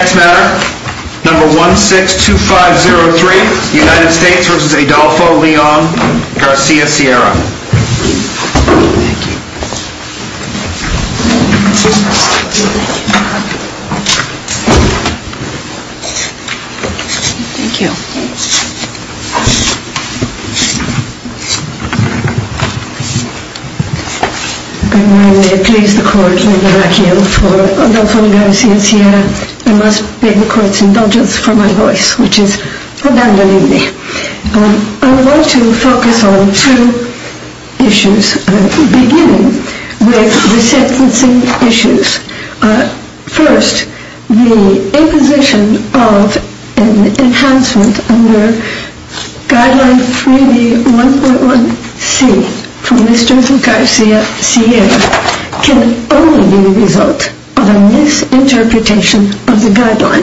Next matter, number 162503, United States v. Adolfo Leon Garcia-Sierra Thank you. Thank you. I'm going to please the court in the vacuum for Adolfo Leon Garcia-Sierra. I must beg the courts indulgence for my voice, which is abandoning me. I want to focus on two issues, beginning with the sentencing issues. First, the imposition of an enhancement under guideline 3b.1.1c from Mr. Garcia-Sierra can only be the result of a misinterpretation of the guideline.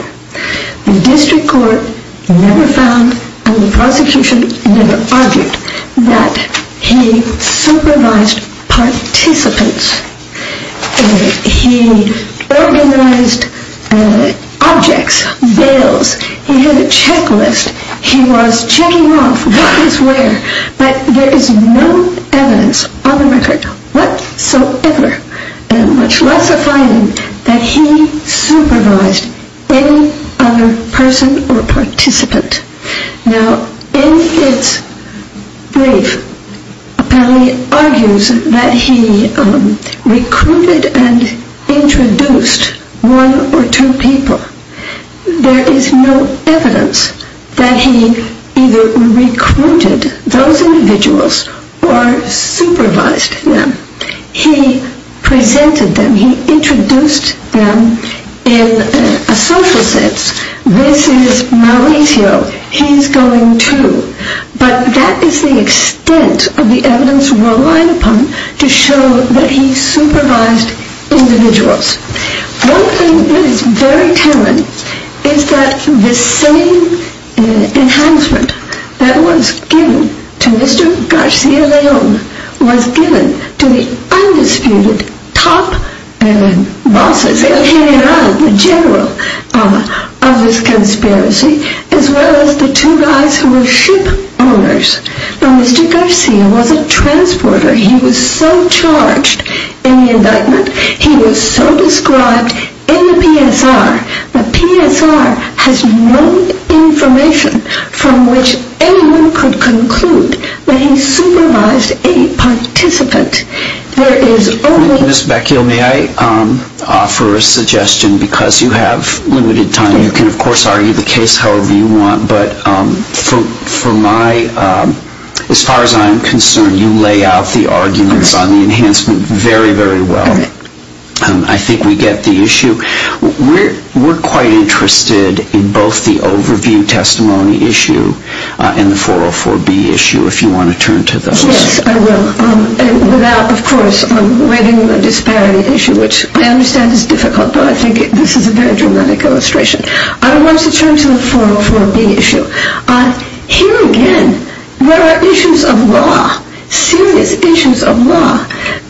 The district court never found and the prosecution never argued that he supervised participants. He organized objects, bails, he had a checklist, he was checking off what is where, but there is no evidence on the record whatsoever, much less a finding that he supervised any other person or participant. Now, in his brief, apparently argues that he recruited and introduced one or two people. There is no evidence that he either recruited those individuals or supervised them. He presented them, he introduced them in a social sense. This is Mauricio, he's going to. But that is the extent of the evidence relied upon to show that he supervised individuals. One thing that is very telling is that the same enhancement that was given to Mr. Garcia-Leon was given to the undisputed top bosses, the general of this conspiracy, as well as the two guys who were ship owners. Now, Mr. Garcia was a transporter, he was so charged in the indictment, he was so described in the PSR, the PSR has no information from which anyone could conclude that he supervised any participant. There is only... Thank you, Ms. Beckel. May I offer a suggestion, because you have limited time, you can of course argue the case however you want, but for my, as far as I'm concerned, you lay out the arguments on the enhancement very, very well. I think we get the issue. We're quite interested in both the overview testimony issue and the 404B issue, if you want to turn to those. Yes, I will. Without, of course, reading the disparity issue, which I understand is difficult, but I think this is a very dramatic illustration. I want to turn to the 404B issue.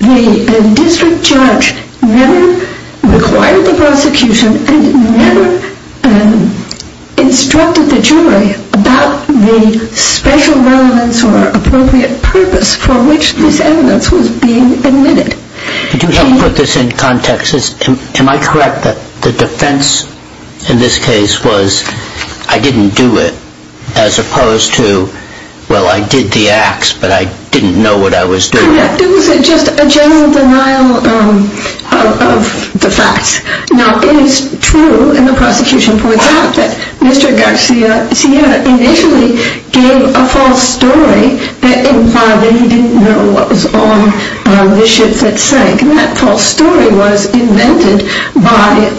The district judge never required the prosecution and never instructed the jury about the special relevance or appropriate purpose for which this evidence was being admitted. Could you help put this in context? Am I correct that the defense in this case was I didn't do it, as opposed to, well, I did the acts, but I didn't know what I was doing? It was just a general denial of the facts. Now, it is true, and the prosecution points out, that Mr. Garcia initially gave a false story that implied that he didn't know what was on the ship that sank, and that false story was invented by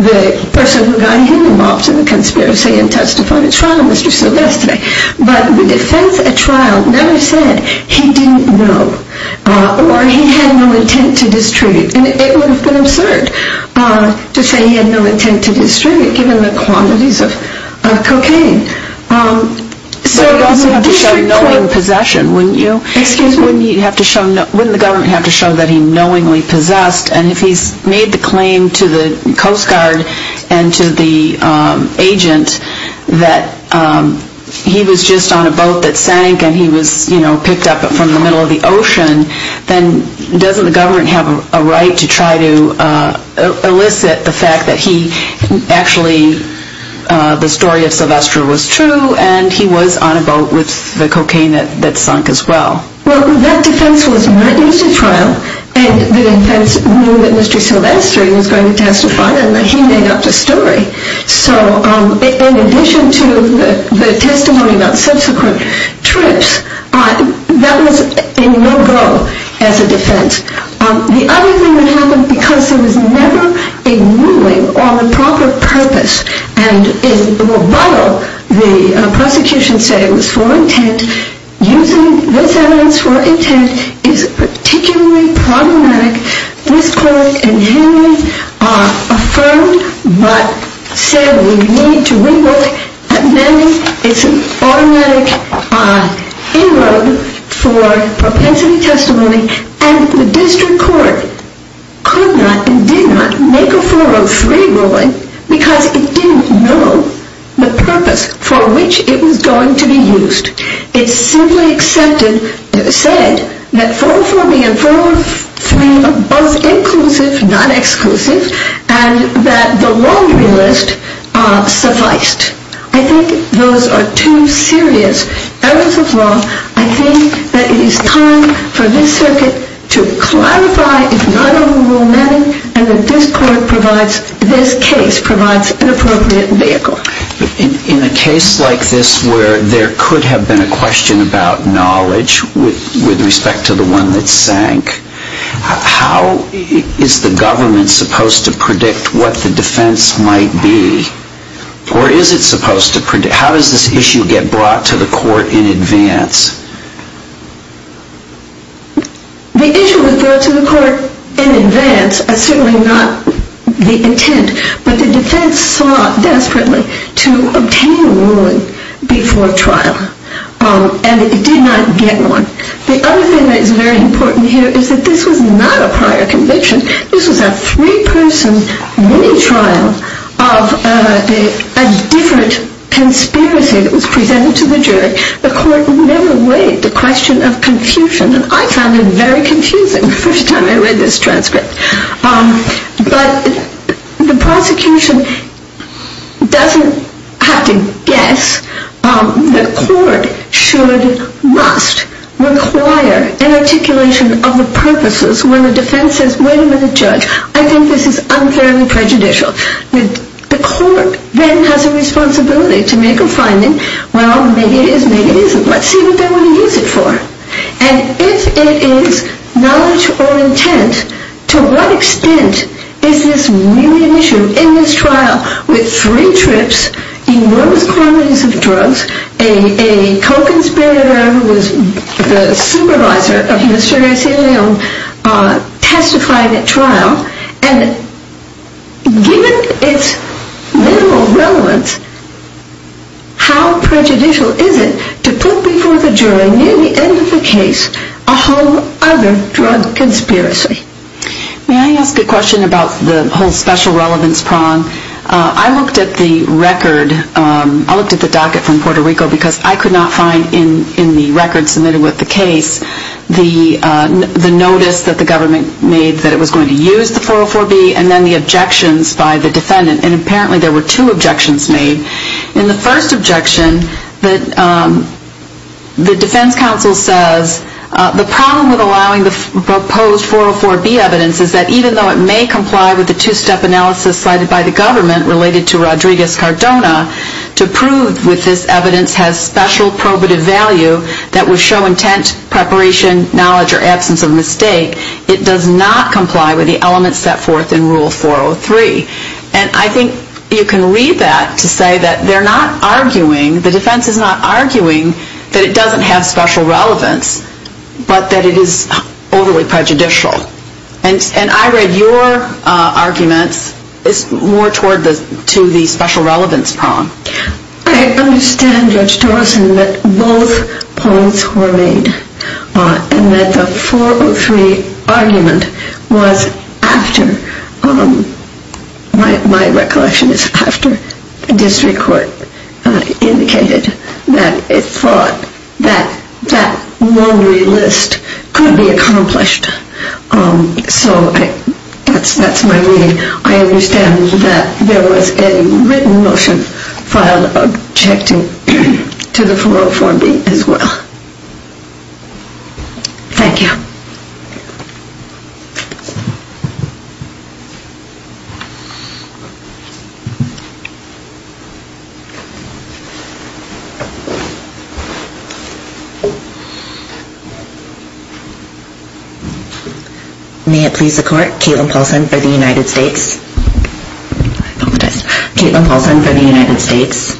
the person who got him involved in the conspiracy and testified at trial, Mr. Silvestre. But the defense at trial never said he didn't know, or he had no intent to distribute. It would have been absurd to say he had no intent to distribute, given the quantities of cocaine. But you'd also have to show knowing possession, wouldn't you? Excuse me? Wouldn't the government have to show that he knowingly possessed, and if he's made the claim to the Coast Guard and to the agent that he was just on a boat that sank, and he was picked up from the middle of the ocean, then doesn't the government have a right to try to elicit the fact that he actually, the story of Silvestre was true, and he was on a boat with the cocaine that sank as well? Well, that defense was not used at trial, and the defense knew that Mr. Silvestre was going to testify, and that he made up the story. So in addition to the testimony about subsequent trips, that was a no-go as a defense. The other thing that happened, because there was never a ruling on the proper purpose, and while the prosecution said it was for intent, using this evidence for intent is particularly problematic. This court in Henry affirmed, but said we need to re-look at many. It's an automatic inroad for propensity testimony, and the district court could not and did not make a 403 ruling, because it didn't know the purpose for which it was going to be used. It simply accepted, said that 404B and 403 are both inclusive, not exclusive, and that the laundry list sufficed. I think those are two serious errors of law. I think that it is time for this circuit to clarify, if not overrule many, and that this case provides an appropriate vehicle. In a case like this where there could have been a question about knowledge, with respect to the one that sank, how is the government supposed to predict what the defense might be? Or is it supposed to predict? How does this issue get brought to the court in advance? The issue was brought to the court in advance, certainly not the intent, but the defense sought desperately to obtain a ruling before trial, and it did not get one. The other thing that is very important here is that this was not a prior conviction. This was a three-person mini-trial of a different conspiracy that was presented to the jury. The court never weighed the question of confusion, and I found it very confusing the first time I read this transcript. But the prosecution doesn't have to guess. The court should, must, require an articulation of the purposes when the defense says, wait a minute, judge, I think this is unfairly prejudicial. The court then has a responsibility to make a finding. Well, maybe it is, maybe it isn't. Let's see what they want to use it for. And if it is knowledge or intent, to what extent is this really an issue? In this trial, with three trips, enormous quantities of drugs, a co-conspirator who was the supervisor of Mr. Eselio testified at trial, and given its literal relevance, how prejudicial is it to put before the jury, near the end of the case, a whole other drug conspiracy? May I ask a question about the whole special relevance prong? I looked at the record, I looked at the docket from Puerto Rico, because I could not find in the record submitted with the case, the notice that the government made that it was going to use the 404B, and then the objections by the defendant. And apparently there were two objections made. In the first objection, the defense counsel says, the problem with allowing the proposed 404B evidence is that even though it may comply with the two-step analysis cited by the government related to Rodriguez-Cardona, to prove that this evidence has special probative value that would show intent, preparation, knowledge, or absence of mistake, it does not comply with the elements set forth in Rule 403. And I think you can read that to say that they're not arguing, the defense is not arguing that it doesn't have special relevance, but that it is overly prejudicial. And I read your arguments more toward the special relevance prong. I understand, Judge Dawson, that both points were made, and that the 403 argument was after, my recollection is after, the district court indicated that it thought that that laundry list could be accomplished. So that's my reading. I understand that there was a written motion filed objecting to the 404B as well. Thank you. May it please the court. Caitlin Paulson for the United States. I apologize. Caitlin Paulson for the United States.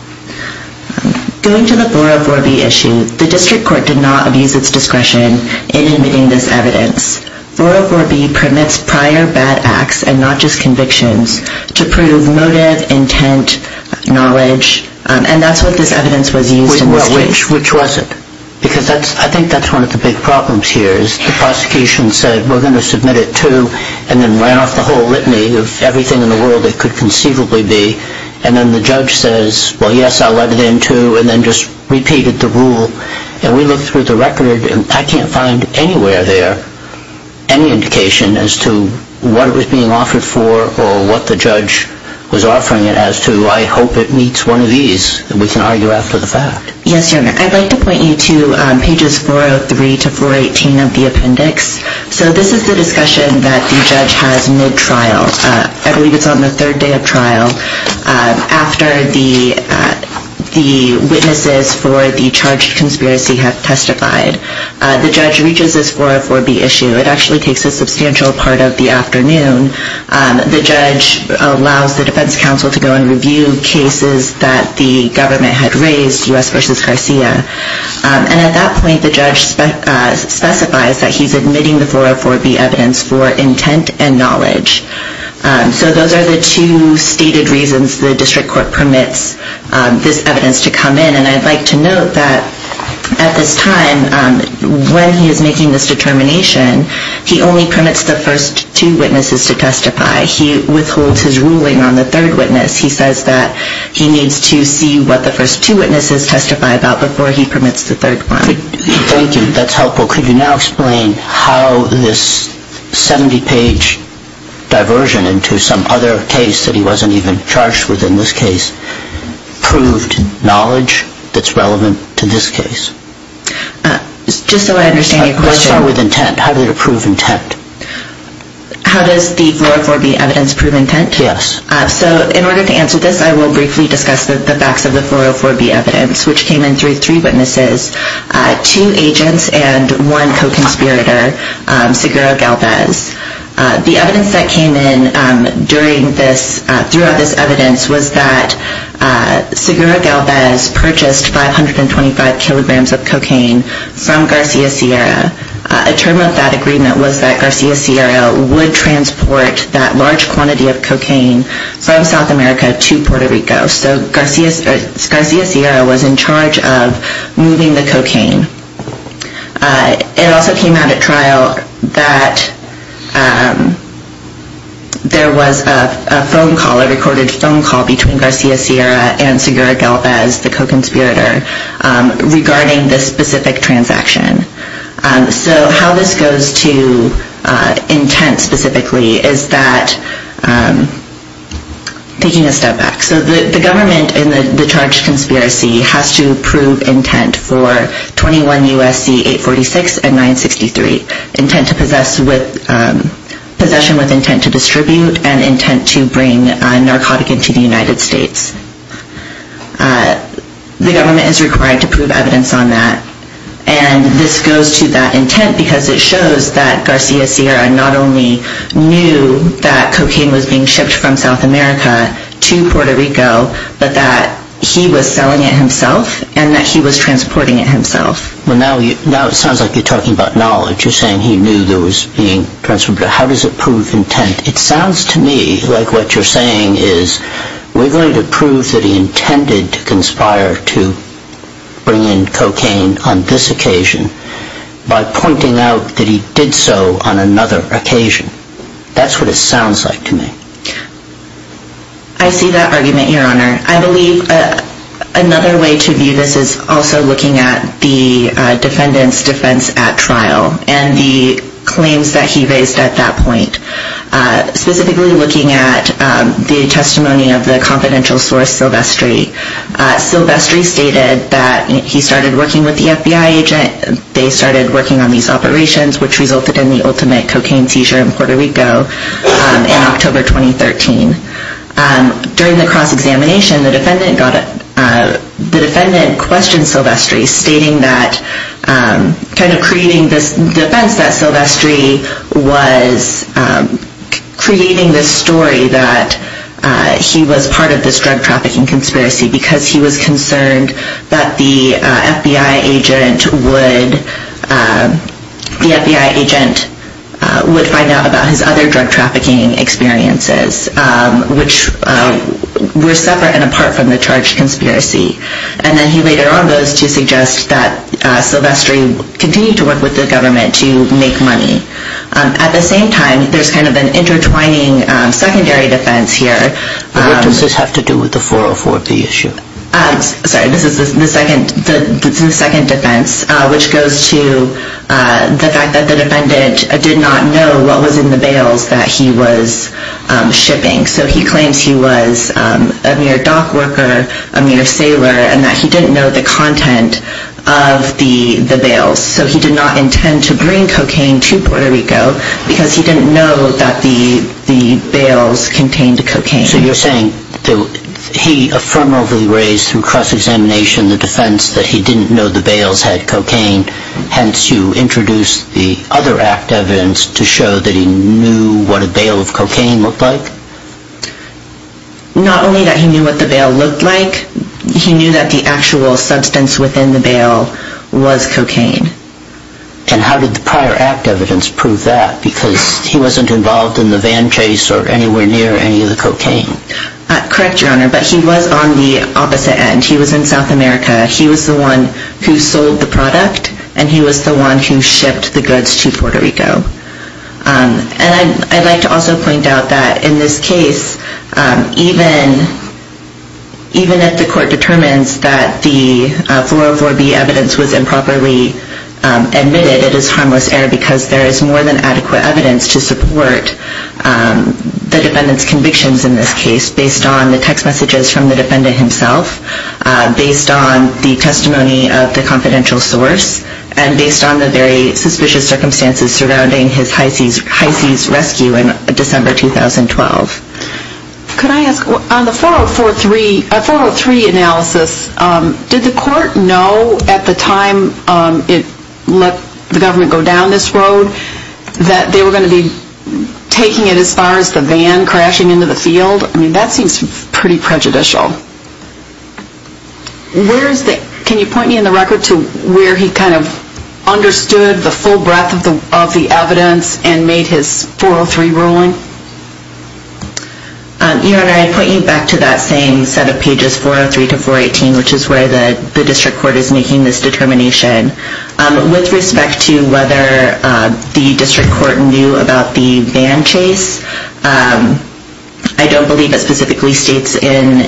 Going to the 404B issue, the district court did not abuse its discretion in admitting this evidence. 404B permits prior bad acts and not just convictions to prove motive, intent, knowledge, and that's what this evidence was used in this case. Which was it? Because I think that's one of the big problems here, is the prosecution said we're going to submit it to, and then ran off the whole litany of everything in the world it could conceivably be, and then the judge says, well, yes, I'll let it in to, and then just repeated the rule. And we looked through the record, and I can't find anywhere there any indication as to what it was being offered for or what the judge was offering it as to. I hope it meets one of these, and we can argue after the fact. Yes, Your Honor. I'd like to point you to pages 403 to 418 of the appendix. So this is the discussion that the judge has mid-trial. I believe it's on the third day of trial after the witnesses for the charged conspiracy have testified. The judge reaches this 404B issue. It actually takes a substantial part of the afternoon. The judge allows the defense counsel to go and review cases that the government had raised, U.S. v. Garcia. And at that point, the judge specifies that he's admitting the 404B evidence for intent and knowledge. So those are the two stated reasons the district court permits this evidence to come in. And I'd like to note that at this time, when he is making this determination, he only permits the first two witnesses to testify. He withholds his ruling on the third witness. He says that he needs to see what the first two witnesses testify about before he permits the third one. Thank you. That's helpful. Could you now explain how this 70-page diversion into some other case that he wasn't even charged with in this case proved knowledge that's relevant to this case? Just so I understand your question. Let's start with intent. How did it prove intent? How does the 404B evidence prove intent? Yes. So in order to answer this, I will briefly discuss the facts of the 404B evidence, which came in through three witnesses, two agents, and one co-conspirator, Seguro Galvez. The evidence that came in throughout this evidence was that Seguro Galvez purchased 525 kilograms of cocaine from Garcia Sierra. A term of that agreement was that Garcia Sierra would transport that large quantity of cocaine from South America to Puerto Rico. So Garcia Sierra was in charge of moving the cocaine. It also came out at trial that there was a phone call, a recorded phone call, between Garcia Sierra and Seguro Galvez, the co-conspirator, regarding this specific transaction. So how this goes to intent specifically is that, taking a step back, the government, in the charge of conspiracy, has to prove intent for 21 U.S.C. 846 and 963, possession with intent to distribute and intent to bring narcotic into the United States. The government is required to prove evidence on that, and this goes to that intent because it shows that Garcia Sierra not only knew that cocaine was being shipped from South America to Puerto Rico, but that he was selling it himself and that he was transporting it himself. Well, now it sounds like you're talking about knowledge. You're saying he knew that it was being transported. How does it prove intent? It sounds to me like what you're saying is, we're going to prove that he intended to conspire to bring in cocaine on this occasion by pointing out that he did so on another occasion. That's what it sounds like to me. I see that argument, Your Honor. I believe another way to view this is also looking at the defendant's defense at trial and the claims that he raised at that point. Specifically looking at the testimony of the confidential source, Silvestri. Silvestri stated that he started working with the FBI agent. They started working on these operations, which resulted in the ultimate cocaine seizure in Puerto Rico in October 2013. During the cross-examination, the defendant questioned Silvestri, stating that kind of creating this defense that Silvestri was creating this story that he was part of this drug trafficking conspiracy because he was concerned that the FBI agent would find out about his other drug trafficking experiences, which were separate and apart from the charged conspiracy. And then he later on goes to suggest that Silvestri continue to work with the government to make money. At the same time, there's kind of an intertwining secondary defense here. What does this have to do with the 404B issue? Sorry, this is the second defense, which goes to the fact that the defendant did not know what was in the bales that he was shipping. So he claims he was a mere dock worker, a mere sailor, and that he didn't know the content of the bales. So he did not intend to bring cocaine to Puerto Rico because he didn't know that the bales contained cocaine. So you're saying that he affirmatively raised through cross-examination the defense that he didn't know the bales had cocaine, hence you introduced the other act evidence to show that he knew what a bale of cocaine looked like? Not only that he knew what the bale looked like, he knew that the actual substance within the bale was cocaine. And how did the prior act evidence prove that? Because he wasn't involved in the van chase or anywhere near any of the cocaine. Correct, Your Honor, but he was on the opposite end. He was in South America. He was the one who sold the product, and he was the one who shipped the goods to Puerto Rico. And I'd like to also point out that in this case, even if the court determines that the 404B evidence was improperly admitted, it is harmless error because there is more than adequate evidence to support the defendant's convictions in this case based on the text messages from the defendant himself, based on the testimony of the confidential source, and based on the very suspicious circumstances surrounding his high-seas rescue in December 2012. Could I ask, on the 403 analysis, did the court know at the time it let the government go down this road that they were going to be taking it as far as the van crashing into the field? I mean, that seems pretty prejudicial. Can you point me in the record to where he kind of understood the full breadth of the evidence and made his 403 ruling? Your Honor, I'd point you back to that same set of pages, 403 to 418, which is where the district court is making this determination. With respect to whether the district court knew about the van chase, I don't believe it specifically states in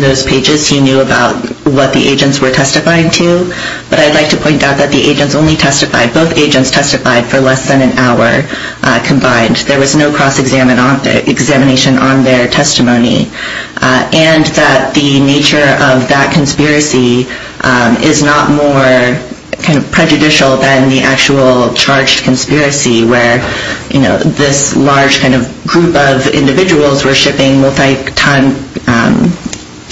those pages he knew about what the agents were testifying to, but I'd like to point out that the agents only testified, both agents testified for less than an hour combined. There was no cross-examination on their testimony, and that the nature of that conspiracy is not more kind of prejudicial than the actual charged conspiracy, where this large kind of group of individuals were shipping multi-ton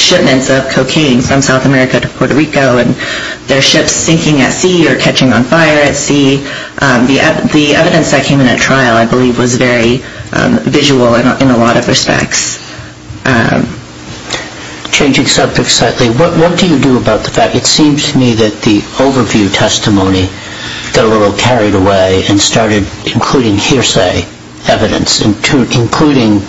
shipments of cocaine from South America to Puerto Rico, and their ships sinking at sea or catching on fire at sea. The evidence that came in at trial, I believe, was very visual in a lot of respects. Changing subjects slightly, what do you do about the fact, it seems to me, that the overview testimony got a little carried away and started including hearsay evidence, including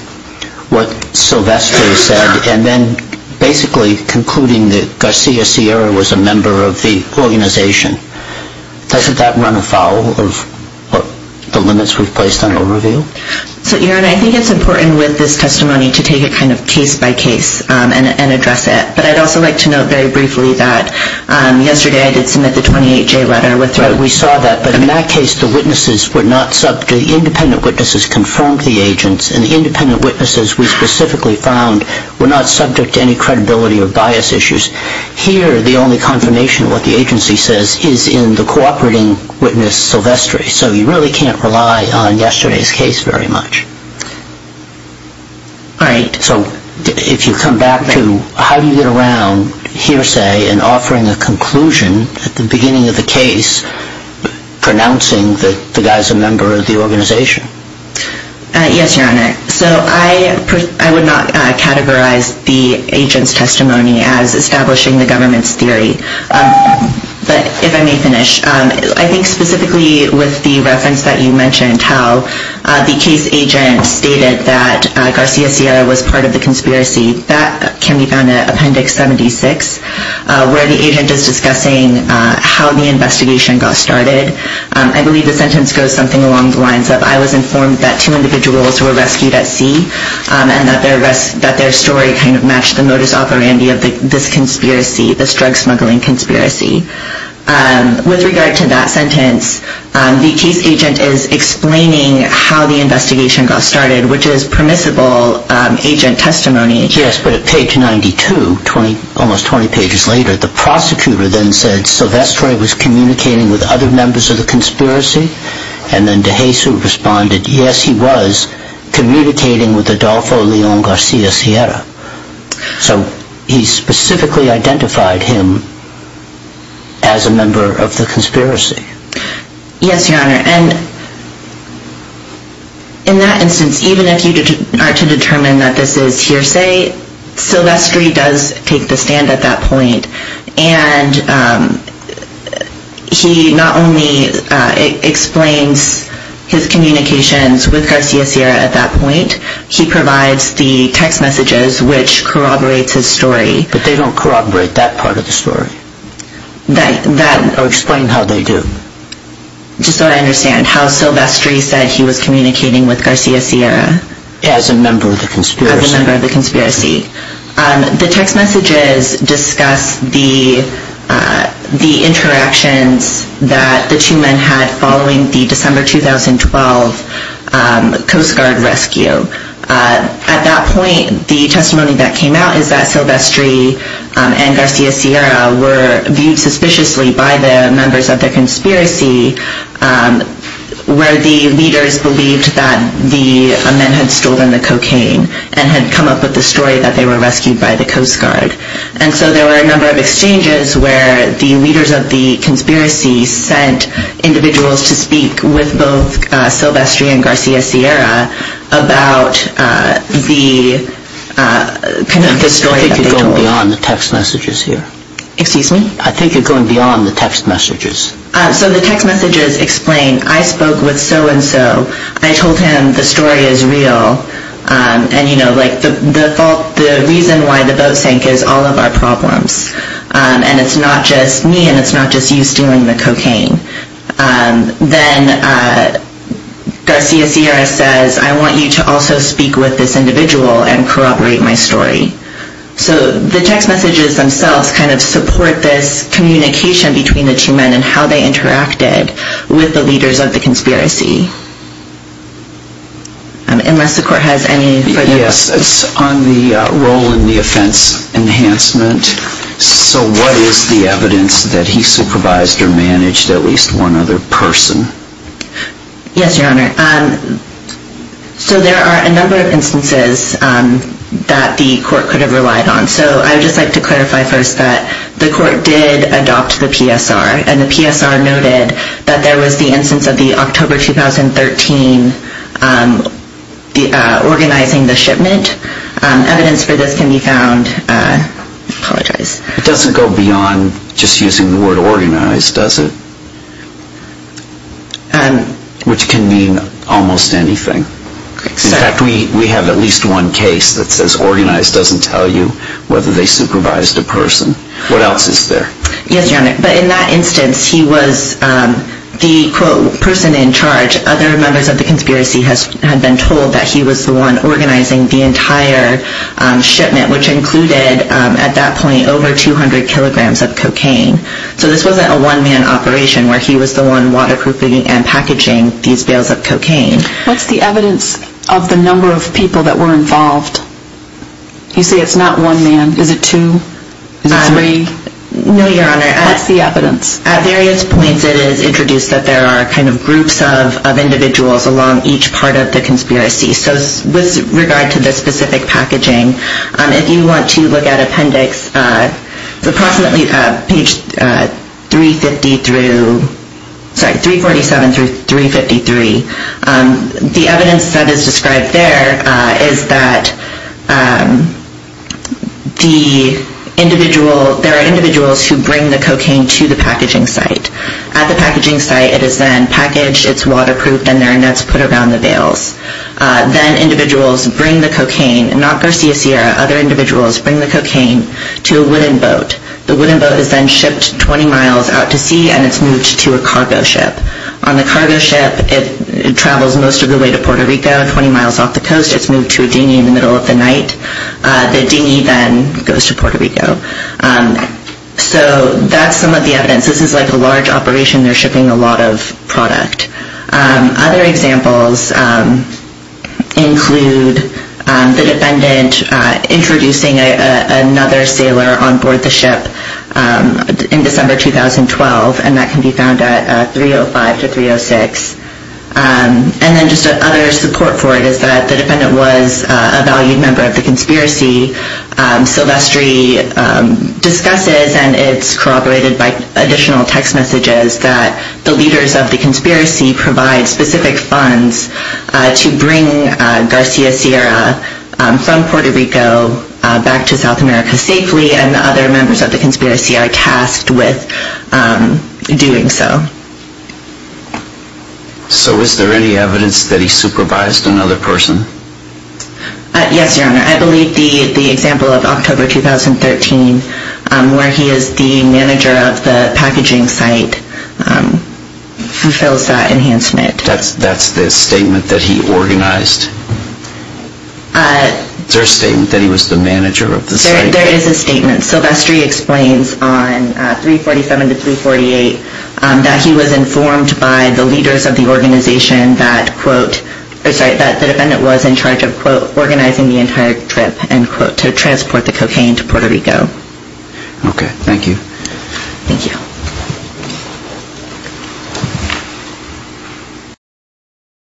what Sylvester said, and then basically concluding that Garcia Sierra was a member of the organization. Doesn't that run afoul of the limits we've placed on overview? So, Your Honor, I think it's important with this testimony to take it kind of case by case and address it, but I'd also like to note very briefly that yesterday I did submit the 28-J letter. We saw that, but in that case, the witnesses were not subject. The independent witnesses confirmed the agents, and the independent witnesses, we specifically found, were not subject to any credibility or bias issues. Here, the only confirmation of what the agency says is in the cooperating witness, Sylvester, so you really can't rely on yesterday's case very much. All right. So, if you come back to how you get around hearsay and offering a conclusion at the beginning of the case, pronouncing that the guy's a member of the organization. Yes, Your Honor. So, I would not categorize the agent's testimony as establishing the government's theory, but if I may finish, I think specifically with the reference that you mentioned, how the case agent stated that Garcia Sierra was part of the conspiracy, that can be found in Appendix 76, where the agent is discussing how the investigation got started. I believe the sentence goes something along the lines of, I was informed that two individuals were rescued at sea, and that their story kind of matched the modus operandi of this drug-smuggling conspiracy. With regard to that sentence, the case agent is explaining how the investigation got started, which is permissible agent testimony. Yes, but at page 92, almost 20 pages later, the prosecutor then said, Sylvester was communicating with other members of the conspiracy, and then DeJesus responded, yes, he was communicating with Adolfo Leon Garcia Sierra. So, he specifically identified him as a member of the conspiracy. Yes, Your Honor, and in that instance, even if you are to determine that this is hearsay, Sylvester does take the stand at that point, and he not only explains his communications with Garcia Sierra at that point, he provides the text messages which corroborates his story. But they don't corroborate that part of the story, or explain how they do. Just so I understand, how Sylvester said he was communicating with Garcia Sierra? As a member of the conspiracy. As a member of the conspiracy. The text messages discuss the interactions that the two men had following the December 2012 Coast Guard rescue. At that point, the testimony that came out is that Sylvester and Garcia Sierra were viewed suspiciously by the members of the conspiracy, where the leaders believed that the men had stolen the cocaine, and had come up with the story that they were rescued by the Coast Guard. And so there were a number of exchanges where the leaders of the conspiracy sent individuals to speak with both Sylvester and Garcia Sierra about the story that they told. I think you're going beyond the text messages here. Excuse me? I think you're going beyond the text messages. So the text messages explain, I spoke with so-and-so, I told him the story is real, and the reason why the boat sank is all of our problems. And it's not just me, and it's not just you stealing the cocaine. Then Garcia Sierra says, I want you to also speak with this individual and corroborate my story. So the text messages themselves kind of support this communication between the two men and how they interacted with the leaders of the conspiracy. Unless the court has any further questions. Yes, on the role in the offense enhancement. So what is the evidence that he supervised or managed at least one other person? Yes, Your Honor. So there are a number of instances that the court could have relied on. So I would just like to clarify first that the court did adopt the PSR, and the PSR noted that there was the instance of the October 2013 organizing the shipment. Evidence for this can be found. I apologize. It doesn't go beyond just using the word organized, does it? Which can mean almost anything. In fact, we have at least one case that says organized doesn't tell you whether they supervised a person. What else is there? Yes, Your Honor. But in that instance, he was the, quote, person in charge. Other members of the conspiracy had been told that he was the one organizing the entire shipment, which included at that point over 200 kilograms of cocaine. So this wasn't a one-man operation where he was the one waterproofing and packaging these bales of cocaine. What's the evidence of the number of people that were involved? You say it's not one man. Is it two? Is it three? No, Your Honor. What's the evidence? At various points it is introduced that there are kind of groups of individuals along each part of the conspiracy. So with regard to the specific packaging, if you want to look at appendix approximately page 350 through, sorry, 347 through 353, the evidence that is described there is that the individual, there are individuals who bring the cocaine to the packaging site. At the packaging site it is then packaged, it's waterproofed, and there are nets put around the bales. Then individuals bring the cocaine, not Garcia Sierra, other individuals bring the cocaine to a wooden boat. The wooden boat is then shipped 20 miles out to sea and it's moved to a cargo ship. On the cargo ship it travels most of the way to Puerto Rico, 20 miles off the coast. It's moved to a dinghy in the middle of the night. The dinghy then goes to Puerto Rico. So that's some of the evidence. This is like a large operation. They're shipping a lot of product. Other examples include the defendant introducing another sailor on board the ship in December 2012, and that can be found at 305 to 306. And then just other support for it is that the defendant was a valued member of the conspiracy. Silvestri discusses, and it's corroborated by additional text messages, that the leaders of the conspiracy provide specific funds to bring Garcia Sierra from Puerto Rico back to South America safely, and the other members of the conspiracy are tasked with doing so. So is there any evidence that he supervised another person? Yes, Your Honor. I believe the example of October 2013, where he is the manager of the packaging site, fulfills that enhancement. That's the statement that he organized? There is a statement. Silvestri explains on 347 to 348 that he was informed by the leaders of the organization that, quote, that the defendant was in charge of, quote, organizing the entire trip, end quote, to transport the cocaine to Puerto Rico. Okay. Thank you. Thank you.